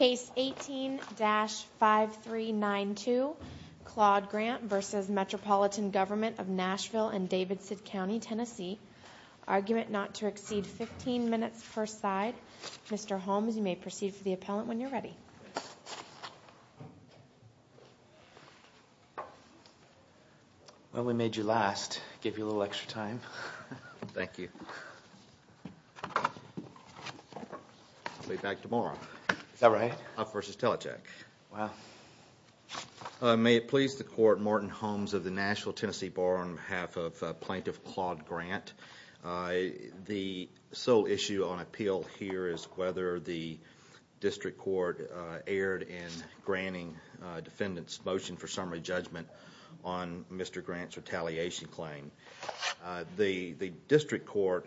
and Davidson County, Tennessee, argument not to exceed 15 minutes per side. Mr. Holmes you may proceed for the appellant when you're ready. Well we made you last, gave you a little extra time. Thank you. I'll be back tomorrow. Is that right? Up versus Telecheck. Wow. May it please the Court, Morton Holmes of the Nashville Tennessee Bar on behalf of Plaintiff Claude Grant. The sole issue on appeal here is whether the District Court erred in granting defendant's motion for summary judgment on Mr. Grant's retaliation claim. The District Court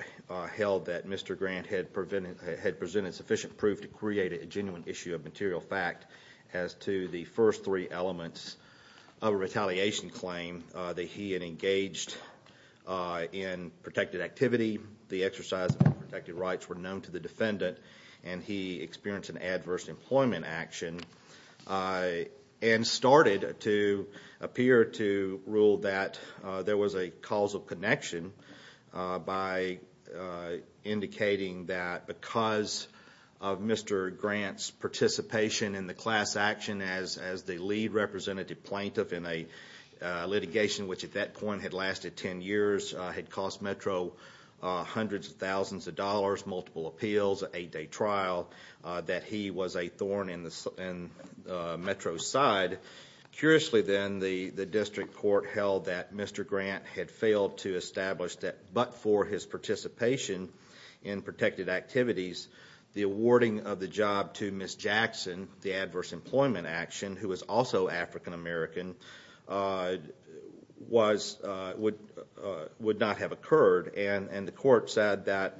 held that Mr. Grant had presented sufficient proof to create a genuine issue of material fact as to the first three elements of a retaliation claim. That he had engaged in protected activity, the exercise of protected rights were known to the defendant, and he experienced an adverse employment action. And started to appear to rule that there was a causal connection by indicating that because of Mr. Grant's participation in the class action as the lead representative plaintiff in a litigation which at that point had lasted ten years, had cost Metro hundreds of thousands of dollars, multiple appeals, eight day trial, that he was a thorn in Metro's side. Curiously then, the District Court held that Mr. Grant had failed to establish that but for his participation in protected activities, the awarding of the job to Ms. Jackson, the adverse employment action, who was also African American, would not have occurred. And the court said that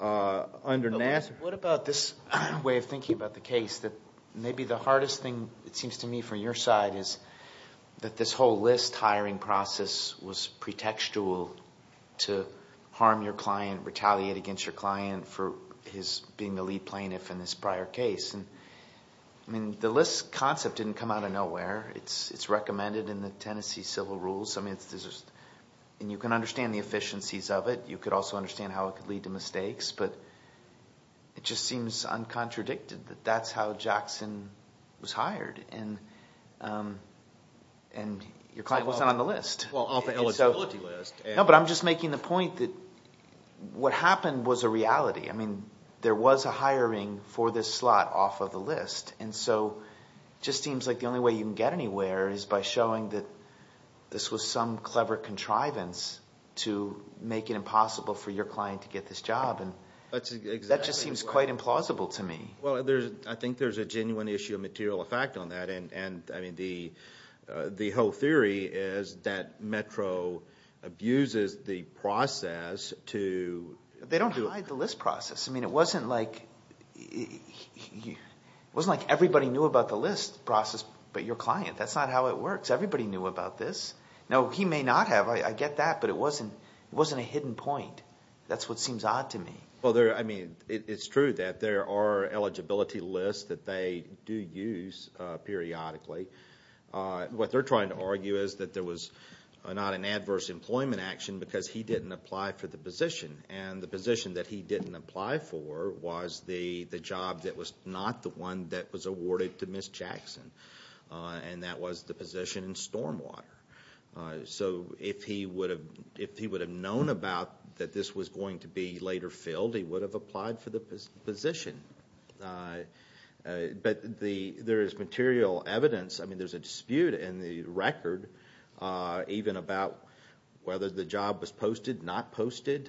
under Nass- What about this way of thinking about the case that maybe the hardest thing, it seems to me, for your side is that this whole list hiring process was pretextual to harm your client, retaliate against your client for his being the lead plaintiff in this prior case. I mean, the list concept didn't come out of nowhere. It's recommended in the Tennessee Civil Rules. And you can understand the efficiencies of it. You could also understand how it could lead to mistakes. But it just seems uncontradicted that that's how Jackson was hired. And your client wasn't on the list. Well, off the eligibility list. No, but I'm just making the point that what happened was a reality. I mean, there was a hiring for this slot off of the list. And so it just seems like the only way you can get anywhere is by showing that this was some clever contrivance to make it impossible for your client to get this job. And that just seems quite implausible to me. Well, I think there's a genuine issue of material effect on that. And, I mean, the whole theory is that Metro abuses the process to- I think everybody knew about the list process, but your client. That's not how it works. Everybody knew about this. Now, he may not have. I get that. But it wasn't a hidden point. That's what seems odd to me. Well, I mean, it's true that there are eligibility lists that they do use periodically. What they're trying to argue is that there was not an adverse employment action because he didn't apply for the position. And the position that he didn't apply for was the job that was not the one that was awarded to Ms. Jackson. And that was the position in Stormwater. So if he would have known about that this was going to be later filled, he would have applied for the position. But there is material evidence. I mean, there's a dispute in the record even about whether the job was posted, not posted.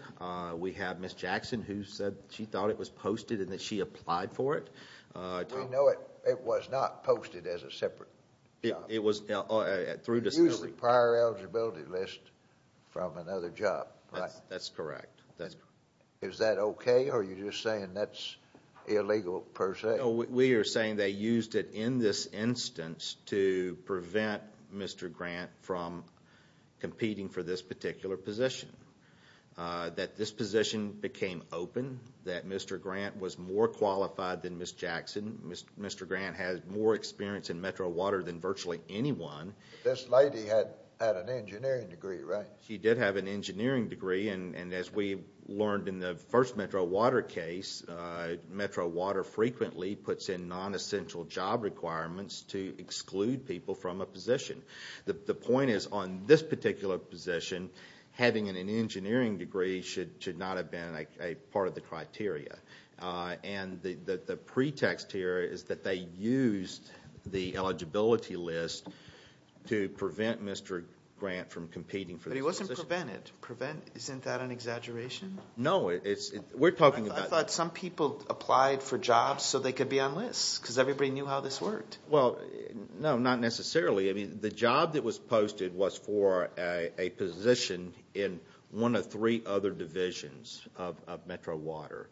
We have Ms. Jackson who said she thought it was posted and that she applied for it. I know it was not posted as a separate job. It was- It used to be a prior eligibility list from another job. That's correct. Is that okay or are you just saying that's illegal per se? No, we are saying they used it in this instance to prevent Mr. Grant from competing for this particular position. That this position became open, that Mr. Grant was more qualified than Ms. Jackson. Mr. Grant had more experience in Metro Water than virtually anyone. This lady had an engineering degree, right? She did have an engineering degree and as we learned in the first Metro Water case, Metro Water frequently puts in non-essential job requirements to exclude people from a position. The point is on this particular position, having an engineering degree should not have been a part of the criteria. The pretext here is that they used the eligibility list to prevent Mr. Grant from competing for this position. But he wasn't prevented. Isn't that an exaggeration? No, we're talking about- I thought some people applied for jobs so they could be on lists because everybody knew how this worked. No, not necessarily. The job that was posted was for a position in one of three other divisions of Metro Water.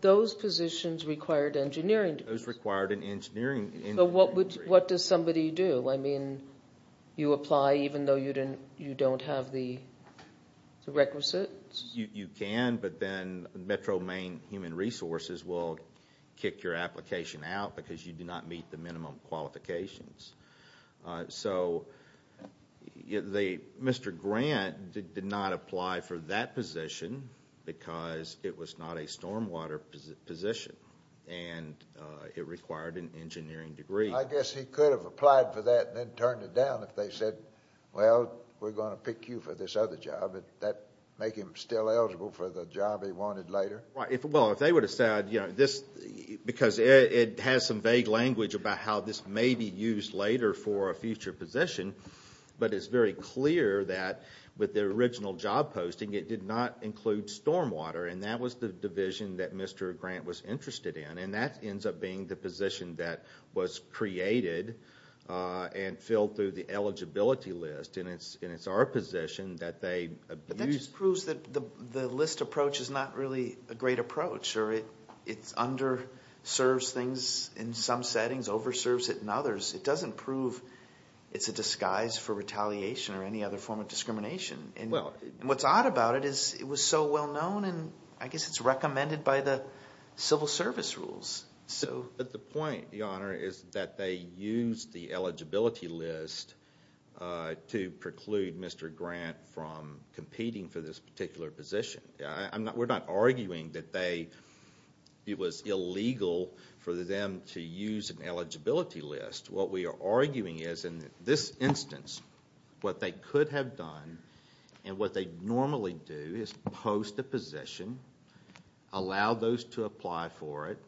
Those positions required engineering degrees. Those required an engineering degree. What does somebody do? You apply even though you don't have the requisites? You can, but then Metro Main Human Resources will kick your application out because you do not meet the minimum qualifications. Mr. Grant did not apply for that position because it was not a stormwater position and it required an engineering degree. I guess he could have applied for that and then turned it down if they said, well, we're going to pick you for this other job. Would that make him still eligible for the job he wanted later? Well, if they would have said- because it has some vague language about how this may be used later for a future position, but it's very clear that with the original job posting it did not include stormwater and that was the division that Mr. Grant was interested in. And that ends up being the position that was created and filled through the eligibility list. And it's our position that they- But that just proves that the list approach is not really a great approach or it underserves things in some settings, overserves it in others. It doesn't prove it's a disguise for retaliation or any other form of discrimination. And what's odd about it is it was so well known and I guess it's recommended by the civil service rules. But the point, Your Honor, is that they used the eligibility list to preclude Mr. Grant from competing for this particular position. We're not arguing that it was illegal for them to use an eligibility list. What we are arguing is in this instance what they could have done and what they normally do is post a position, allow those to apply for it,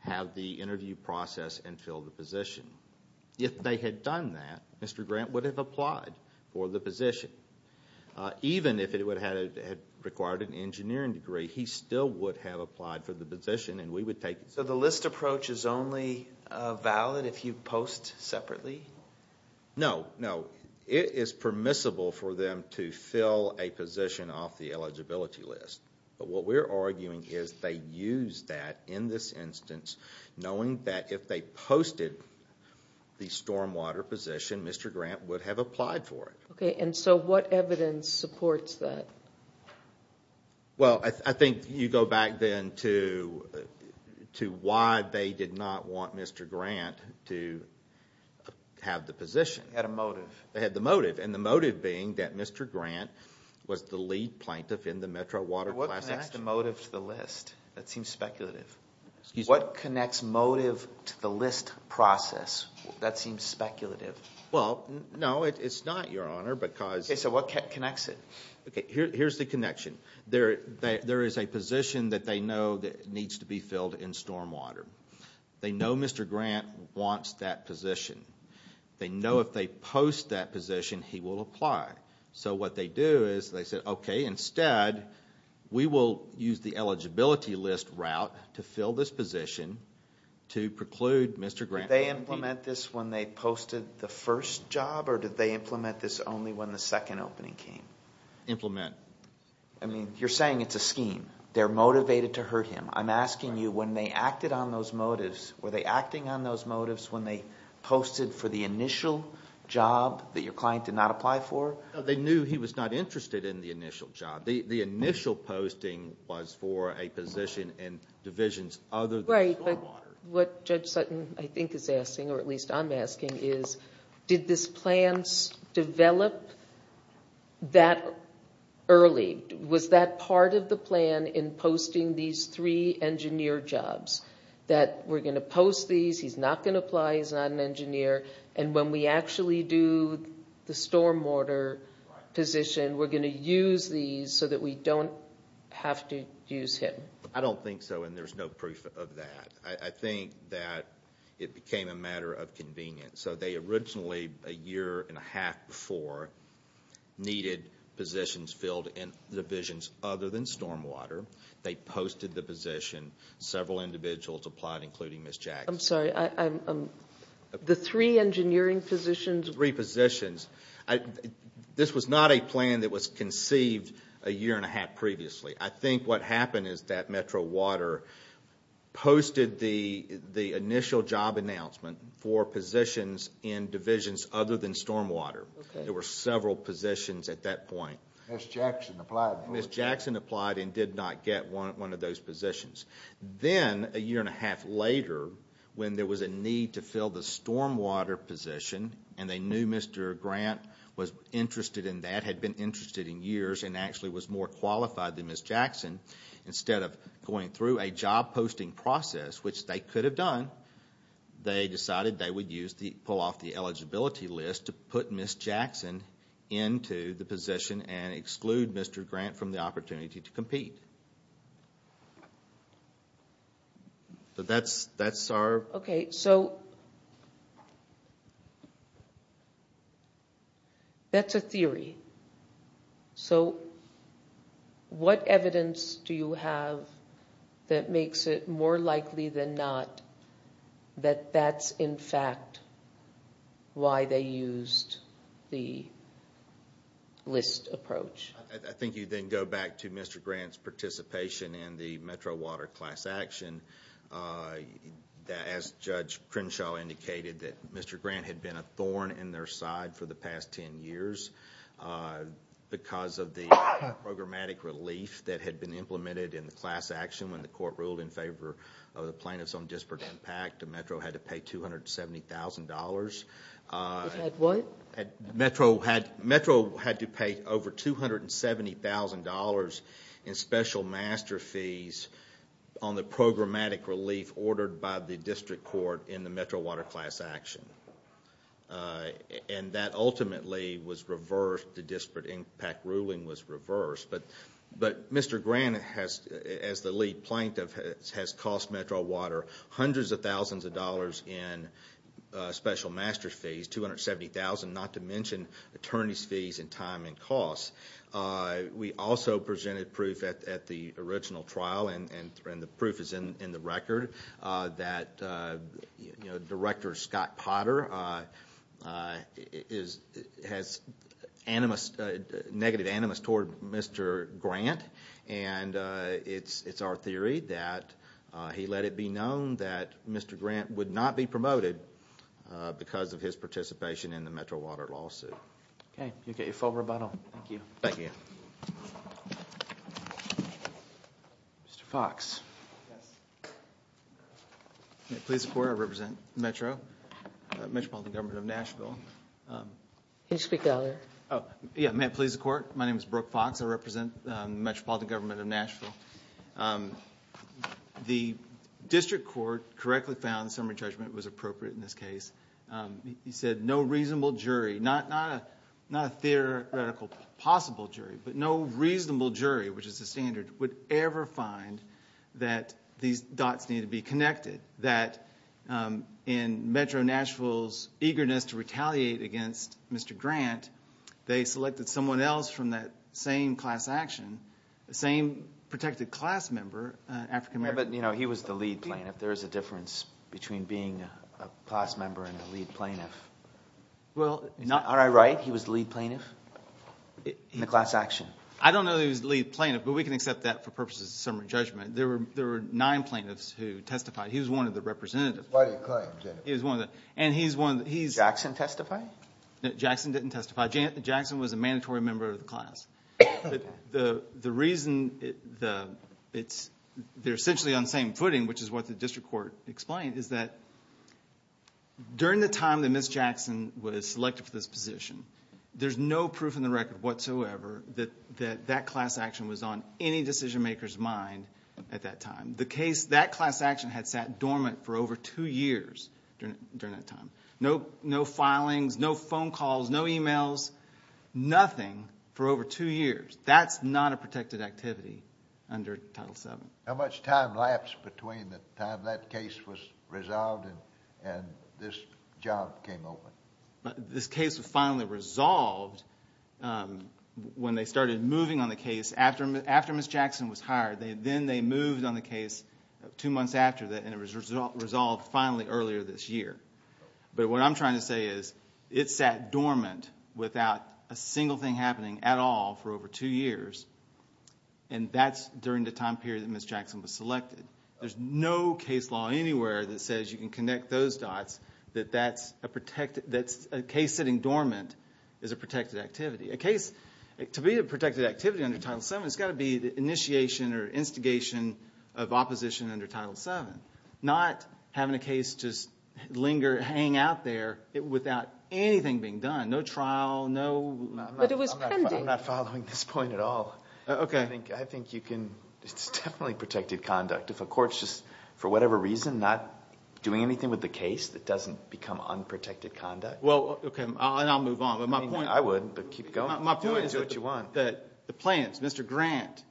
have the interview process and fill the position. If they had done that, Mr. Grant would have applied for the position. Even if it had required an engineering degree, he still would have applied for the position and we would take it. So the list approach is only valid if you post separately? No, no. It is permissible for them to fill a position off the eligibility list. But what we're arguing is they used that in this instance knowing that if they posted the stormwater position, Mr. Grant would have applied for it. Okay, and so what evidence supports that? Well, I think you go back then to why they did not want Mr. Grant to have the position. They had a motive. They had the motive and the motive being that Mr. Grant was the lead plaintiff in the Metro Water Class Action. What connects the motive to the list? That seems speculative. Excuse me? What connects motive to the list process? That seems speculative. Well, no, it's not, Your Honor, because... Okay, so what connects it? Okay, here's the connection. There is a position that they know that needs to be filled in stormwater. They know Mr. Grant wants that position. They know if they post that position, he will apply. So what they do is they say, okay, instead, we will use the eligibility list route to fill this position to preclude Mr. Grant... Did they implement this when they posted the first job, or did they implement this only when the second opening came? Implement. I mean, you're saying it's a scheme. They're motivated to hurt him. I'm asking you, when they acted on those motives, were they acting on those motives when they posted for the initial job that your client did not apply for? No, they knew he was not interested in the initial job. The initial posting was for a position in divisions other than stormwater. What Judge Sutton, I think, is asking, or at least I'm asking, is did this plan develop that early? Was that part of the plan in posting these three engineer jobs, that we're going to post these, he's not going to apply, he's not an engineer, and when we actually do the stormwater position, we're going to use these so that we don't have to use him? I don't think so, and there's no proof of that. I think that it became a matter of convenience. They originally, a year and a half before, needed positions filled in divisions other than stormwater. They posted the position. Several individuals applied, including Ms. Jackson. I'm sorry, the three engineering positions? Three positions. This was not a plan that was conceived a year and a half previously. I think what happened is that Metro Water posted the initial job announcement for positions in divisions other than stormwater. There were several positions at that point. Ms. Jackson applied. Ms. Jackson applied and did not get one of those positions. Then, a year and a half later, when there was a need to fill the stormwater position, and they knew Mr. Grant was interested in that, had been interested in years, and actually was more qualified than Ms. Jackson, instead of going through a job posting process, which they could have done, they decided they would pull off the eligibility list to put Ms. Jackson into the position and exclude Mr. Grant from the opportunity to compete. That's our... Okay, so that's a theory. So what evidence do you have that makes it more likely than not that that's, in fact, why they used the list approach? I think you then go back to Mr. Grant's participation in the Metro Water class action. As Judge Crenshaw indicated, that Mr. Grant had been a thorn in their side for the past ten years because of the programmatic relief that had been implemented in the class action when the court ruled in favor of the plaintiffs on disparate impact. Metro had to pay $270,000. Had what? Metro had to pay over $270,000 in special master fees on the programmatic relief ordered by the district court in the Metro Water class action. And that ultimately was reversed. The disparate impact ruling was reversed. But Mr. Grant, as the lead plaintiff, has cost Metro Water hundreds of thousands of dollars in special master fees, $270,000, not to mention attorney's fees and time and costs. We also presented proof at the original trial, and the proof is in the record, that Director Scott Potter has negative animus toward Mr. Grant. And it's our theory that he let it be known that Mr. Grant would not be promoted because of his participation in the Metro Water lawsuit. Okay. You get your full rebuttal. Thank you. Thank you. Mr. Fox. May it please the Court, I represent Metro, Metropolitan Government of Nashville. Can you speak louder? Yeah, may it please the Court. My name is Brooke Fox. I represent Metropolitan Government of Nashville. The district court correctly found the summary judgment was appropriate in this case. He said no reasonable jury, not a theoretical possible jury, but no reasonable jury, which is the standard, would ever find that these dots need to be connected, that in Metro Nashville's eagerness to retaliate against Mr. Grant, they selected someone else from that same class action, the same protected class member, African-American. Yeah, but, you know, he was the lead plaintiff. There is a difference between being a class member and a lead plaintiff. Are I right? He was the lead plaintiff in the class action? I don't know that he was the lead plaintiff, but we can accept that for purposes of summary judgment. There were nine plaintiffs who testified. He was one of the representatives. Why do you claim that? Jackson testified? Jackson didn't testify. Jackson was a mandatory member of the class. The reason they're essentially on the same footing, which is what the district court explained, is that during the time that Ms. Jackson was selected for this position, there's no proof in the record whatsoever that that class action was on any decision maker's mind at that time. The case, that class action had sat dormant for over two years during that time. No filings, no phone calls, no e-mails, nothing for over two years. That's not a protected activity under Title VII. How much time lapsed between the time that case was resolved and this job came open? This case was finally resolved when they started moving on the case after Ms. Jackson was hired. Then they moved on the case two months after that, and it was resolved finally earlier this year. But what I'm trying to say is it sat dormant without a single thing happening at all for over two years, and that's during the time period that Ms. Jackson was selected. There's no case law anywhere that says you can connect those dots that that's a case sitting dormant is a protected activity. To be a protected activity under Title VII, it's got to be the initiation or instigation of opposition under Title VII, not having a case just linger, hang out there without anything being done, no trial, no— But it was pending. I'm not following this point at all. Okay. I think you can—it's definitely protected conduct. If a court's just, for whatever reason, not doing anything with the case, that doesn't become unprotected conduct. Well, okay, and I'll move on, but my point— I would, but keep going. My point is that the plans, Mr. Grant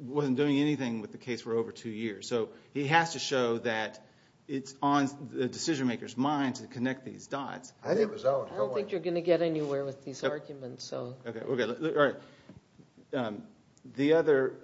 wasn't doing anything with the case for over two years, so he has to show that it's on the decision-maker's mind to connect these dots. I don't think you're going to get anywhere with these arguments, so— Okay, all right. The other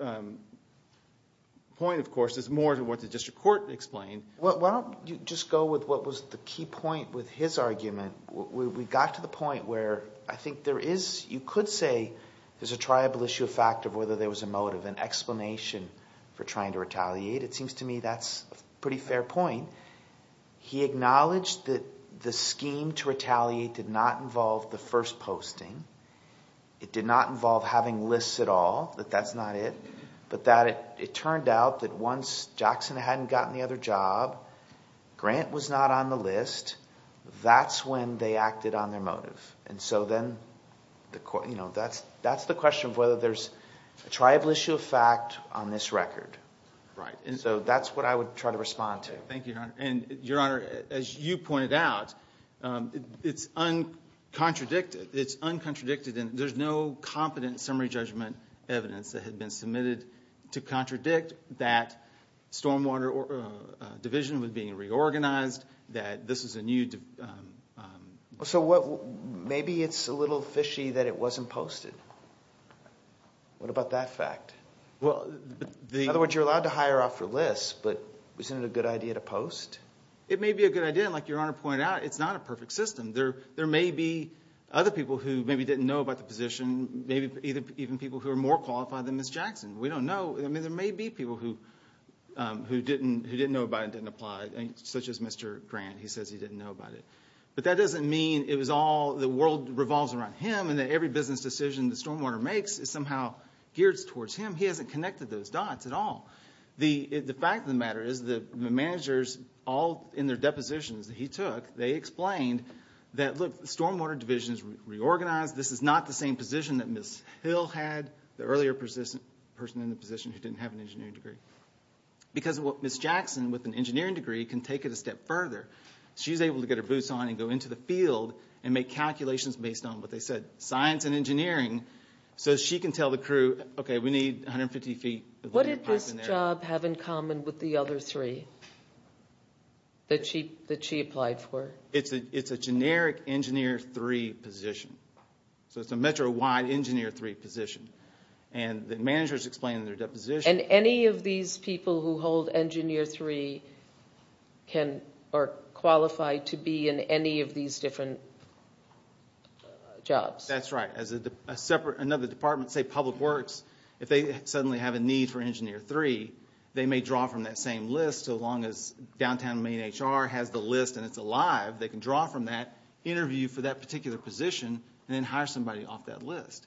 point, of course, is more to what the district court explained. Why don't you just go with what was the key point with his argument? We got to the point where I think there is—you could say there's a triable issue of fact of whether there was a motive, an explanation for trying to retaliate. It seems to me that's a pretty fair point. He acknowledged that the scheme to retaliate did not involve the first posting. It did not involve having lists at all, that that's not it, but that it turned out that once Jackson hadn't gotten the other job, Grant was not on the list. That's when they acted on their motive. And so then, you know, that's the question of whether there's a triable issue of fact on this record. Right. And so that's what I would try to respond to. Thank you, Your Honor. And, Your Honor, as you pointed out, it's uncontradicted. It's uncontradicted, and there's no competent summary judgment evidence that had been submitted to contradict that stormwater division was being reorganized, that this is a new— So maybe it's a little fishy that it wasn't posted. What about that fact? In other words, you're allowed to hire off your lists, but isn't it a good idea to post? It may be a good idea, and like Your Honor pointed out, it's not a perfect system. There may be other people who maybe didn't know about the position, maybe even people who are more qualified than Ms. Jackson. We don't know. I mean, there may be people who didn't know about it and didn't apply, such as Mr. Grant. He says he didn't know about it. But that doesn't mean it was all—the world revolves around him and that every business decision the stormwater makes is somehow geared towards him. He hasn't connected those dots at all. The fact of the matter is the managers, all in their depositions that he took, they explained that, look, the stormwater division is reorganized. This is not the same position that Ms. Hill had, the earlier person in the position who didn't have an engineering degree. Because Ms. Jackson, with an engineering degree, can take it a step further. She's able to get her boots on and go into the field and make calculations based on what they said, science and engineering, so she can tell the crew, okay, we need 150 feet of piping there. What did this job have in common with the other three that she applied for? It's a generic engineer three position. So it's a metro-wide engineer three position. And the managers explain in their deposition— And any of these people who hold engineer three can— are qualified to be in any of these different jobs. That's right. As another department, say public works, if they suddenly have a need for engineer three, they may draw from that same list so long as downtown main HR has the list and it's alive, they can draw from that, interview for that particular position, and then hire somebody off that list.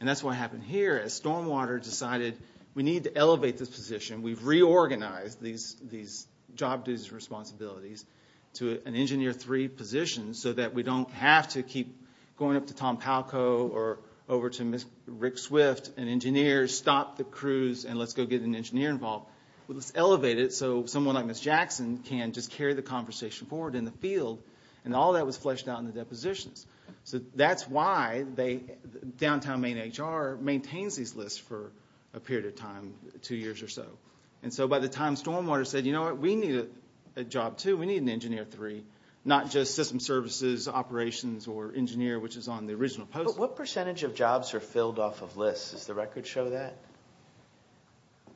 And that's what happened here. As Stormwater decided we need to elevate this position, we've reorganized these job duties and responsibilities to an engineer three position so that we don't have to keep going up to Tom Palco or over to Rick Swift, an engineer, stop the crews, and let's go get an engineer involved. Let's elevate it so someone like Ms. Jackson can just carry the conversation forward in the field. And all that was fleshed out in the depositions. So that's why downtown main HR maintains these lists for a period of time, two years or so. And so by the time Stormwater said, you know what, we need a job too. We need an engineer three, not just system services, operations, or engineer, which is on the original post. But what percentage of jobs are filled off of lists? Does the record show that?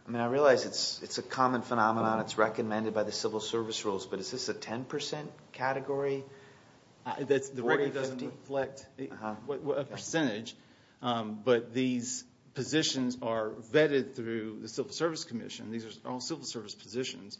I mean, I realize it's a common phenomenon. It's recommended by the civil service rules, but is this a 10% category? The rate doesn't reflect a percentage, but these positions are vetted through the civil service commission. These are all civil service positions.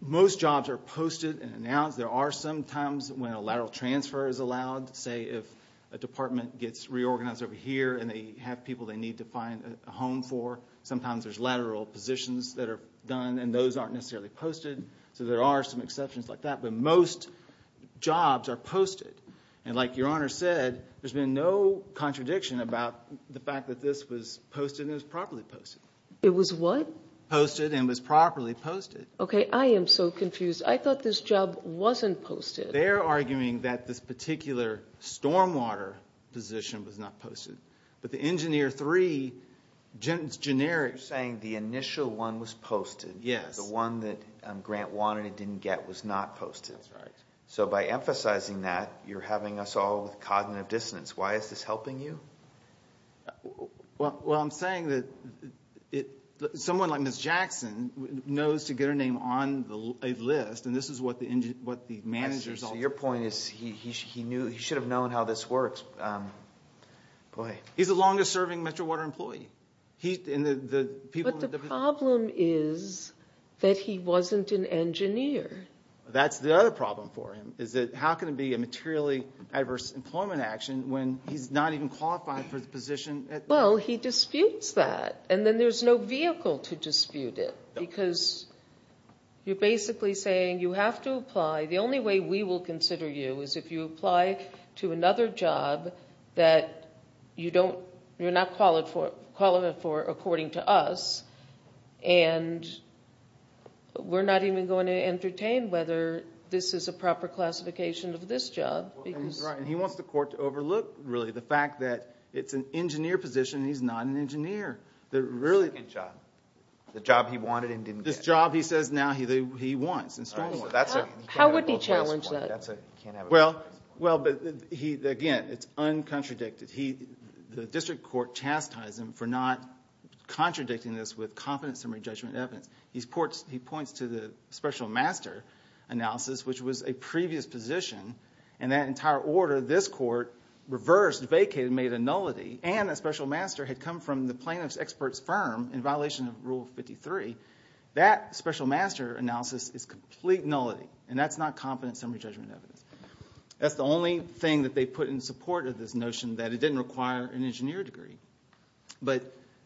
Most jobs are posted and announced. There are some times when a lateral transfer is allowed, say if a department gets reorganized over here and they have people they need to find a home for. Sometimes there's lateral positions that are done, and those aren't necessarily posted. So there are some exceptions like that, but most jobs are posted. And like Your Honor said, there's been no contradiction about the fact that this was posted and was properly posted. It was what? Posted and was properly posted. Okay, I am so confused. I thought this job wasn't posted. They're arguing that this particular Stormwater position was not posted. But the engineer three, it's generic. You're saying the initial one was posted. Yes. But the one that Grant wanted and didn't get was not posted. That's right. So by emphasizing that, you're having us all with cognitive dissonance. Why is this helping you? Well, I'm saying that someone like Ms. Jackson knows to get her name on a list, and this is what the managers all do. Your point is he should have known how this works. He's the longest serving Metro Water employee. But the problem is that he wasn't an engineer. That's the other problem for him, is that how can it be a materially adverse employment action when he's not even qualified for the position? Well, he disputes that, and then there's no vehicle to dispute it The only way we will consider you is if you apply to another job that you're not qualified for according to us, and we're not even going to entertain whether this is a proper classification of this job. He wants the court to overlook, really, the fact that it's an engineer position, and he's not an engineer. The job he wanted and didn't get. This job he says now he wants in Stormwater. How would he challenge that? Well, again, it's uncontradicted. The district court chastised him for not contradicting this with confidence summary judgment evidence. He points to the special master analysis, which was a previous position, and that entire order this court reversed, vacated, made a nullity, and a special master had come from the plaintiff's expert's firm in violation of Rule 53. That special master analysis is complete nullity, and that's not confidence summary judgment evidence. That's the only thing that they put in support of this notion that it didn't require an engineer degree.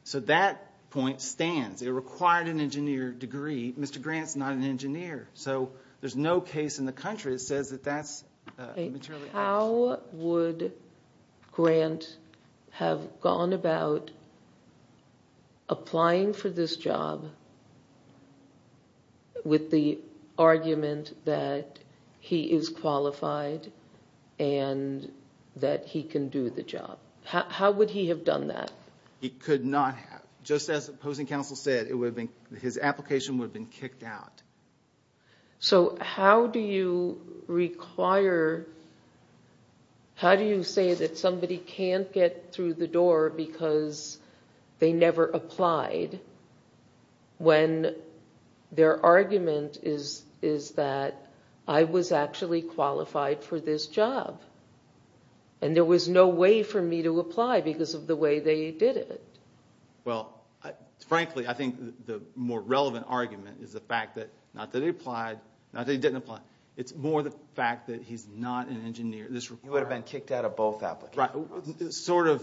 So that point stands. It required an engineer degree. Mr. Grant's not an engineer, so there's no case in the country that says that that's materially accurate. How would Grant have gone about applying for this job with the argument that he is qualified and that he can do the job? How would he have done that? He could not have. Just as opposing counsel said, his application would have been kicked out. So how do you require, how do you say that somebody can't get through the door because they never applied when their argument is that I was actually qualified for this job and there was no way for me to apply because of the way they did it? Well, frankly, I think the more relevant argument is the fact that not that he applied, not that he didn't apply. It's more the fact that he's not an engineer. You would have been kicked out of both applications. Sort of.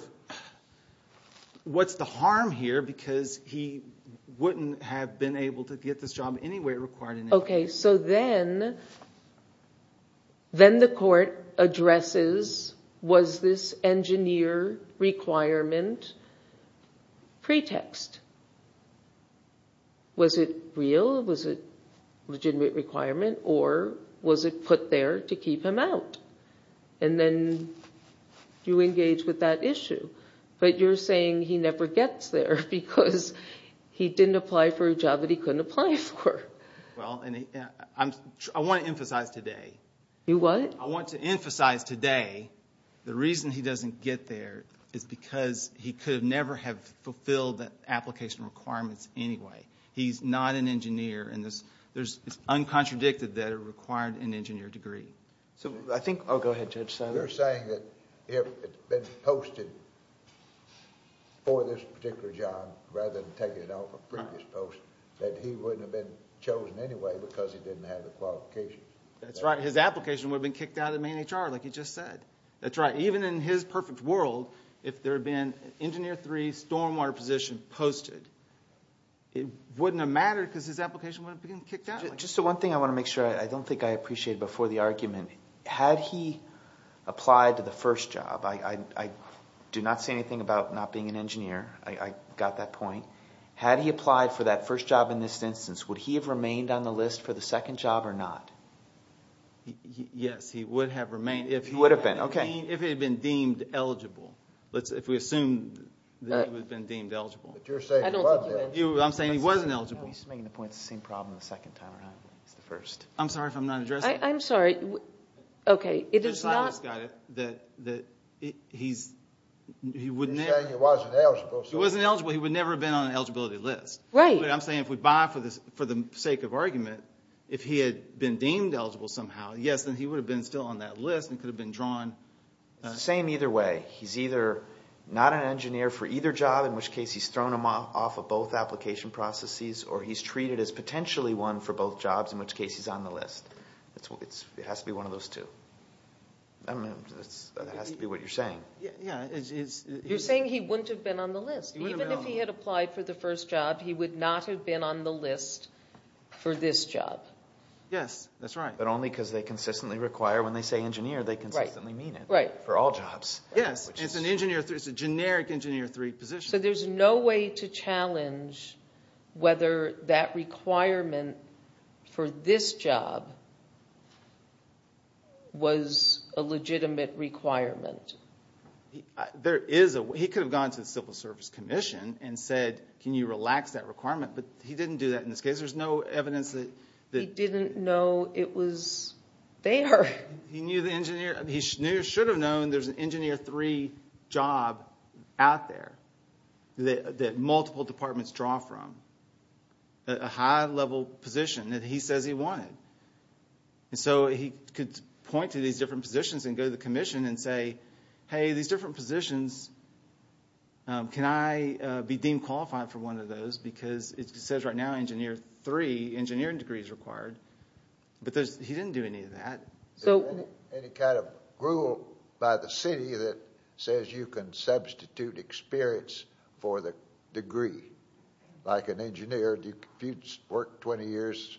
What's the harm here? Because he wouldn't have been able to get this job any way it required an engineer. Okay, so then the court addresses was this engineer requirement pretext? Was it real? Was it a legitimate requirement? Or was it put there to keep him out? And then you engage with that issue. But you're saying he never gets there because he didn't apply for a job that he couldn't apply for. Well, I want to emphasize today. You what? I want to emphasize today the reason he doesn't get there is because he could never have fulfilled the application requirements anyway. He's not an engineer, and it's uncontradicted that it required an engineer degree. So I think—oh, go ahead, Judge Sonner. You're saying that if it's been posted for this particular job rather than taking it off a previous post, that he wouldn't have been chosen anyway because he didn't have the qualifications? That's right. His application would have been kicked out of the main HR, like you just said. That's right. Even in his perfect world, if there had been Engineer 3, stormwater position posted, it wouldn't have mattered because his application would have been kicked out. Just the one thing I want to make sure. I don't think I appreciated before the argument. Had he applied to the first job, I do not say anything about not being an engineer. I got that point. Had he applied for that first job in this instance, would he have remained on the list for the second job or not? Yes, he would have remained. He would have been, okay. If he had been deemed eligible. If we assume that he would have been deemed eligible. But you're saying he wasn't eligible. I'm saying he wasn't eligible. No, he's making the point it's the same problem the second time around. It's the first. I'm sorry if I'm not addressing it. I'm sorry. Okay, it is not— You're saying he wasn't eligible. He wasn't eligible. He would never have been on an eligibility list. Right. I'm saying if we buy for the sake of argument, if he had been deemed eligible somehow, yes, then he would have been still on that list and could have been drawn. It's the same either way. He's either not an engineer for either job, in which case he's thrown him off of both application processes, or he's treated as potentially one for both jobs, in which case he's on the list. It has to be one of those two. That has to be what you're saying. You're saying he wouldn't have been on the list. Even if he had applied for the first job, he would not have been on the list for this job. Yes, that's right. But only because they consistently require when they say engineer, they consistently mean it for all jobs. Yes, it's a generic engineer three position. There's no way to challenge whether that requirement for this job was a legitimate requirement. He could have gone to the Civil Service Commission and said, can you relax that requirement? But he didn't do that in this case. There's no evidence. He didn't know it was there. He knew the engineer. three job out there that multiple departments draw from, a high-level position that he says he wanted. So he could point to these different positions and go to the commission and say, hey, these different positions, can I be deemed qualified for one of those? Because it says right now engineer three engineering degrees required. But he didn't do any of that. Any kind of rule by the city that says you can substitute experience for the degree? Like an engineer, do you work 20 years?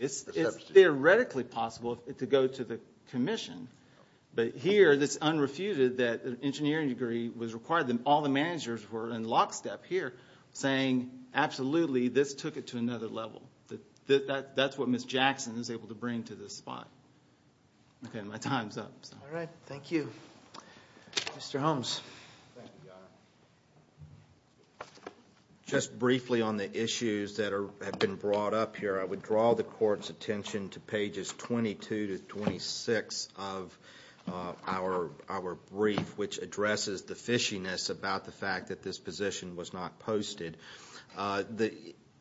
It's theoretically possible to go to the commission. But here it's unrefuted that an engineering degree was required. All the managers were in lockstep here saying, absolutely, this took it to another level. That's what Ms. Jackson is able to bring to this spot. My time's up. All right. Thank you. Mr. Holmes. Thank you, Your Honor. Just briefly on the issues that have been brought up here, I would draw the court's attention to pages 22 to 26 of our brief, which addresses the fishiness about the fact that this position was not posted.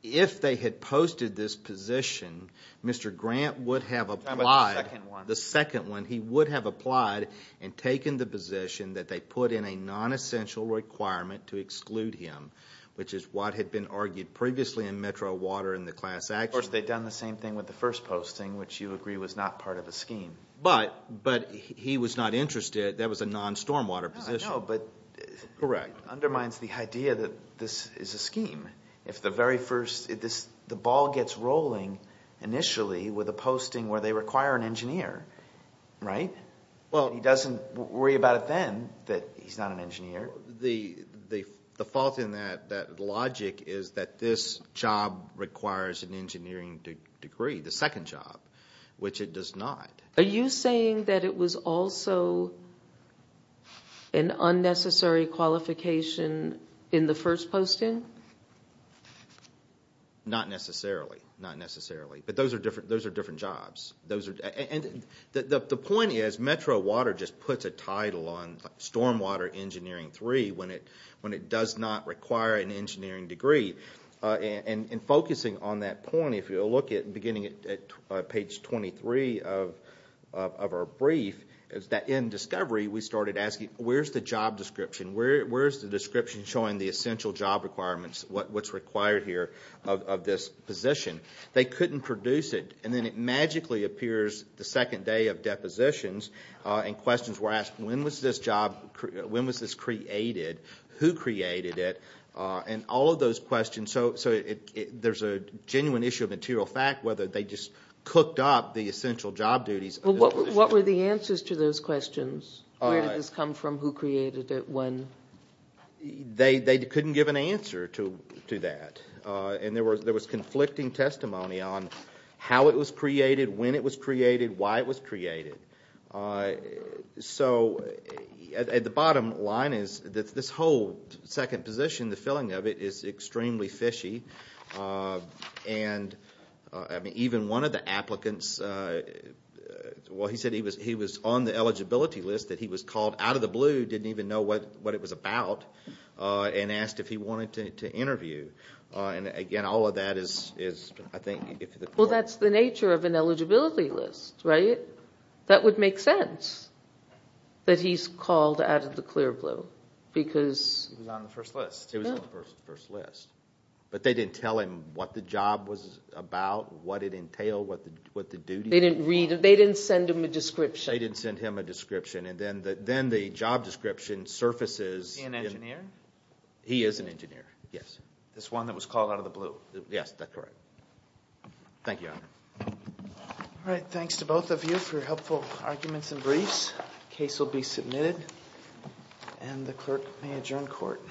If they had posted this position, Mr. Grant would have applied. The second one. The second one. He would have applied and taken the position that they put in a non-essential requirement to exclude him, which is what had been argued previously in Metro Water and the class action. Of course, they'd done the same thing with the first posting, which you agree was not part of the scheme. But he was not interested. That was a non-stormwater position. I know, but it undermines the idea that this is a scheme. If the very first – the ball gets rolling initially with a posting where they require an engineer, right? He doesn't worry about it then that he's not an engineer. The fault in that logic is that this job requires an engineering degree, the second job, which it does not. Are you saying that it was also an unnecessary qualification in the first posting? Not necessarily. Not necessarily. But those are different jobs. And the point is Metro Water just puts a title on stormwater engineering three when it does not require an engineering degree. And focusing on that point, if you look at beginning at page 23 of our brief, is that in discovery we started asking, where's the job description? Where's the description showing the essential job requirements, what's required here of this position? They couldn't produce it. And then it magically appears the second day of depositions, and questions were asked, when was this job – when was this created? Who created it? And all of those questions – so there's a genuine issue of material fact, whether they just cooked up the essential job duties. Well, what were the answers to those questions? Where did this come from? Who created it? When? They couldn't give an answer to that. And there was conflicting testimony on how it was created, when it was created, why it was created. So the bottom line is that this whole second position, the filling of it, is extremely fishy, and even one of the applicants – well, he said he was on the eligibility list, that he was called out of the blue, didn't even know what it was about, and asked if he wanted to interview. And, again, all of that is, I think – Well, that's the nature of an eligibility list, right? That would make sense, that he's called out of the clear blue, because – He was on the first list. He was on the first list. But they didn't tell him what the job was about, what it entailed, what the duties were. They didn't read – they didn't send him a description. They didn't send him a description. And then the job description surfaces – He's an engineer? He is an engineer, yes. This one that was called out of the blue. Yes, that's correct. Thank you. All right, thanks to both of you for your helpful arguments and briefs. The case will be submitted, and the clerk may adjourn court.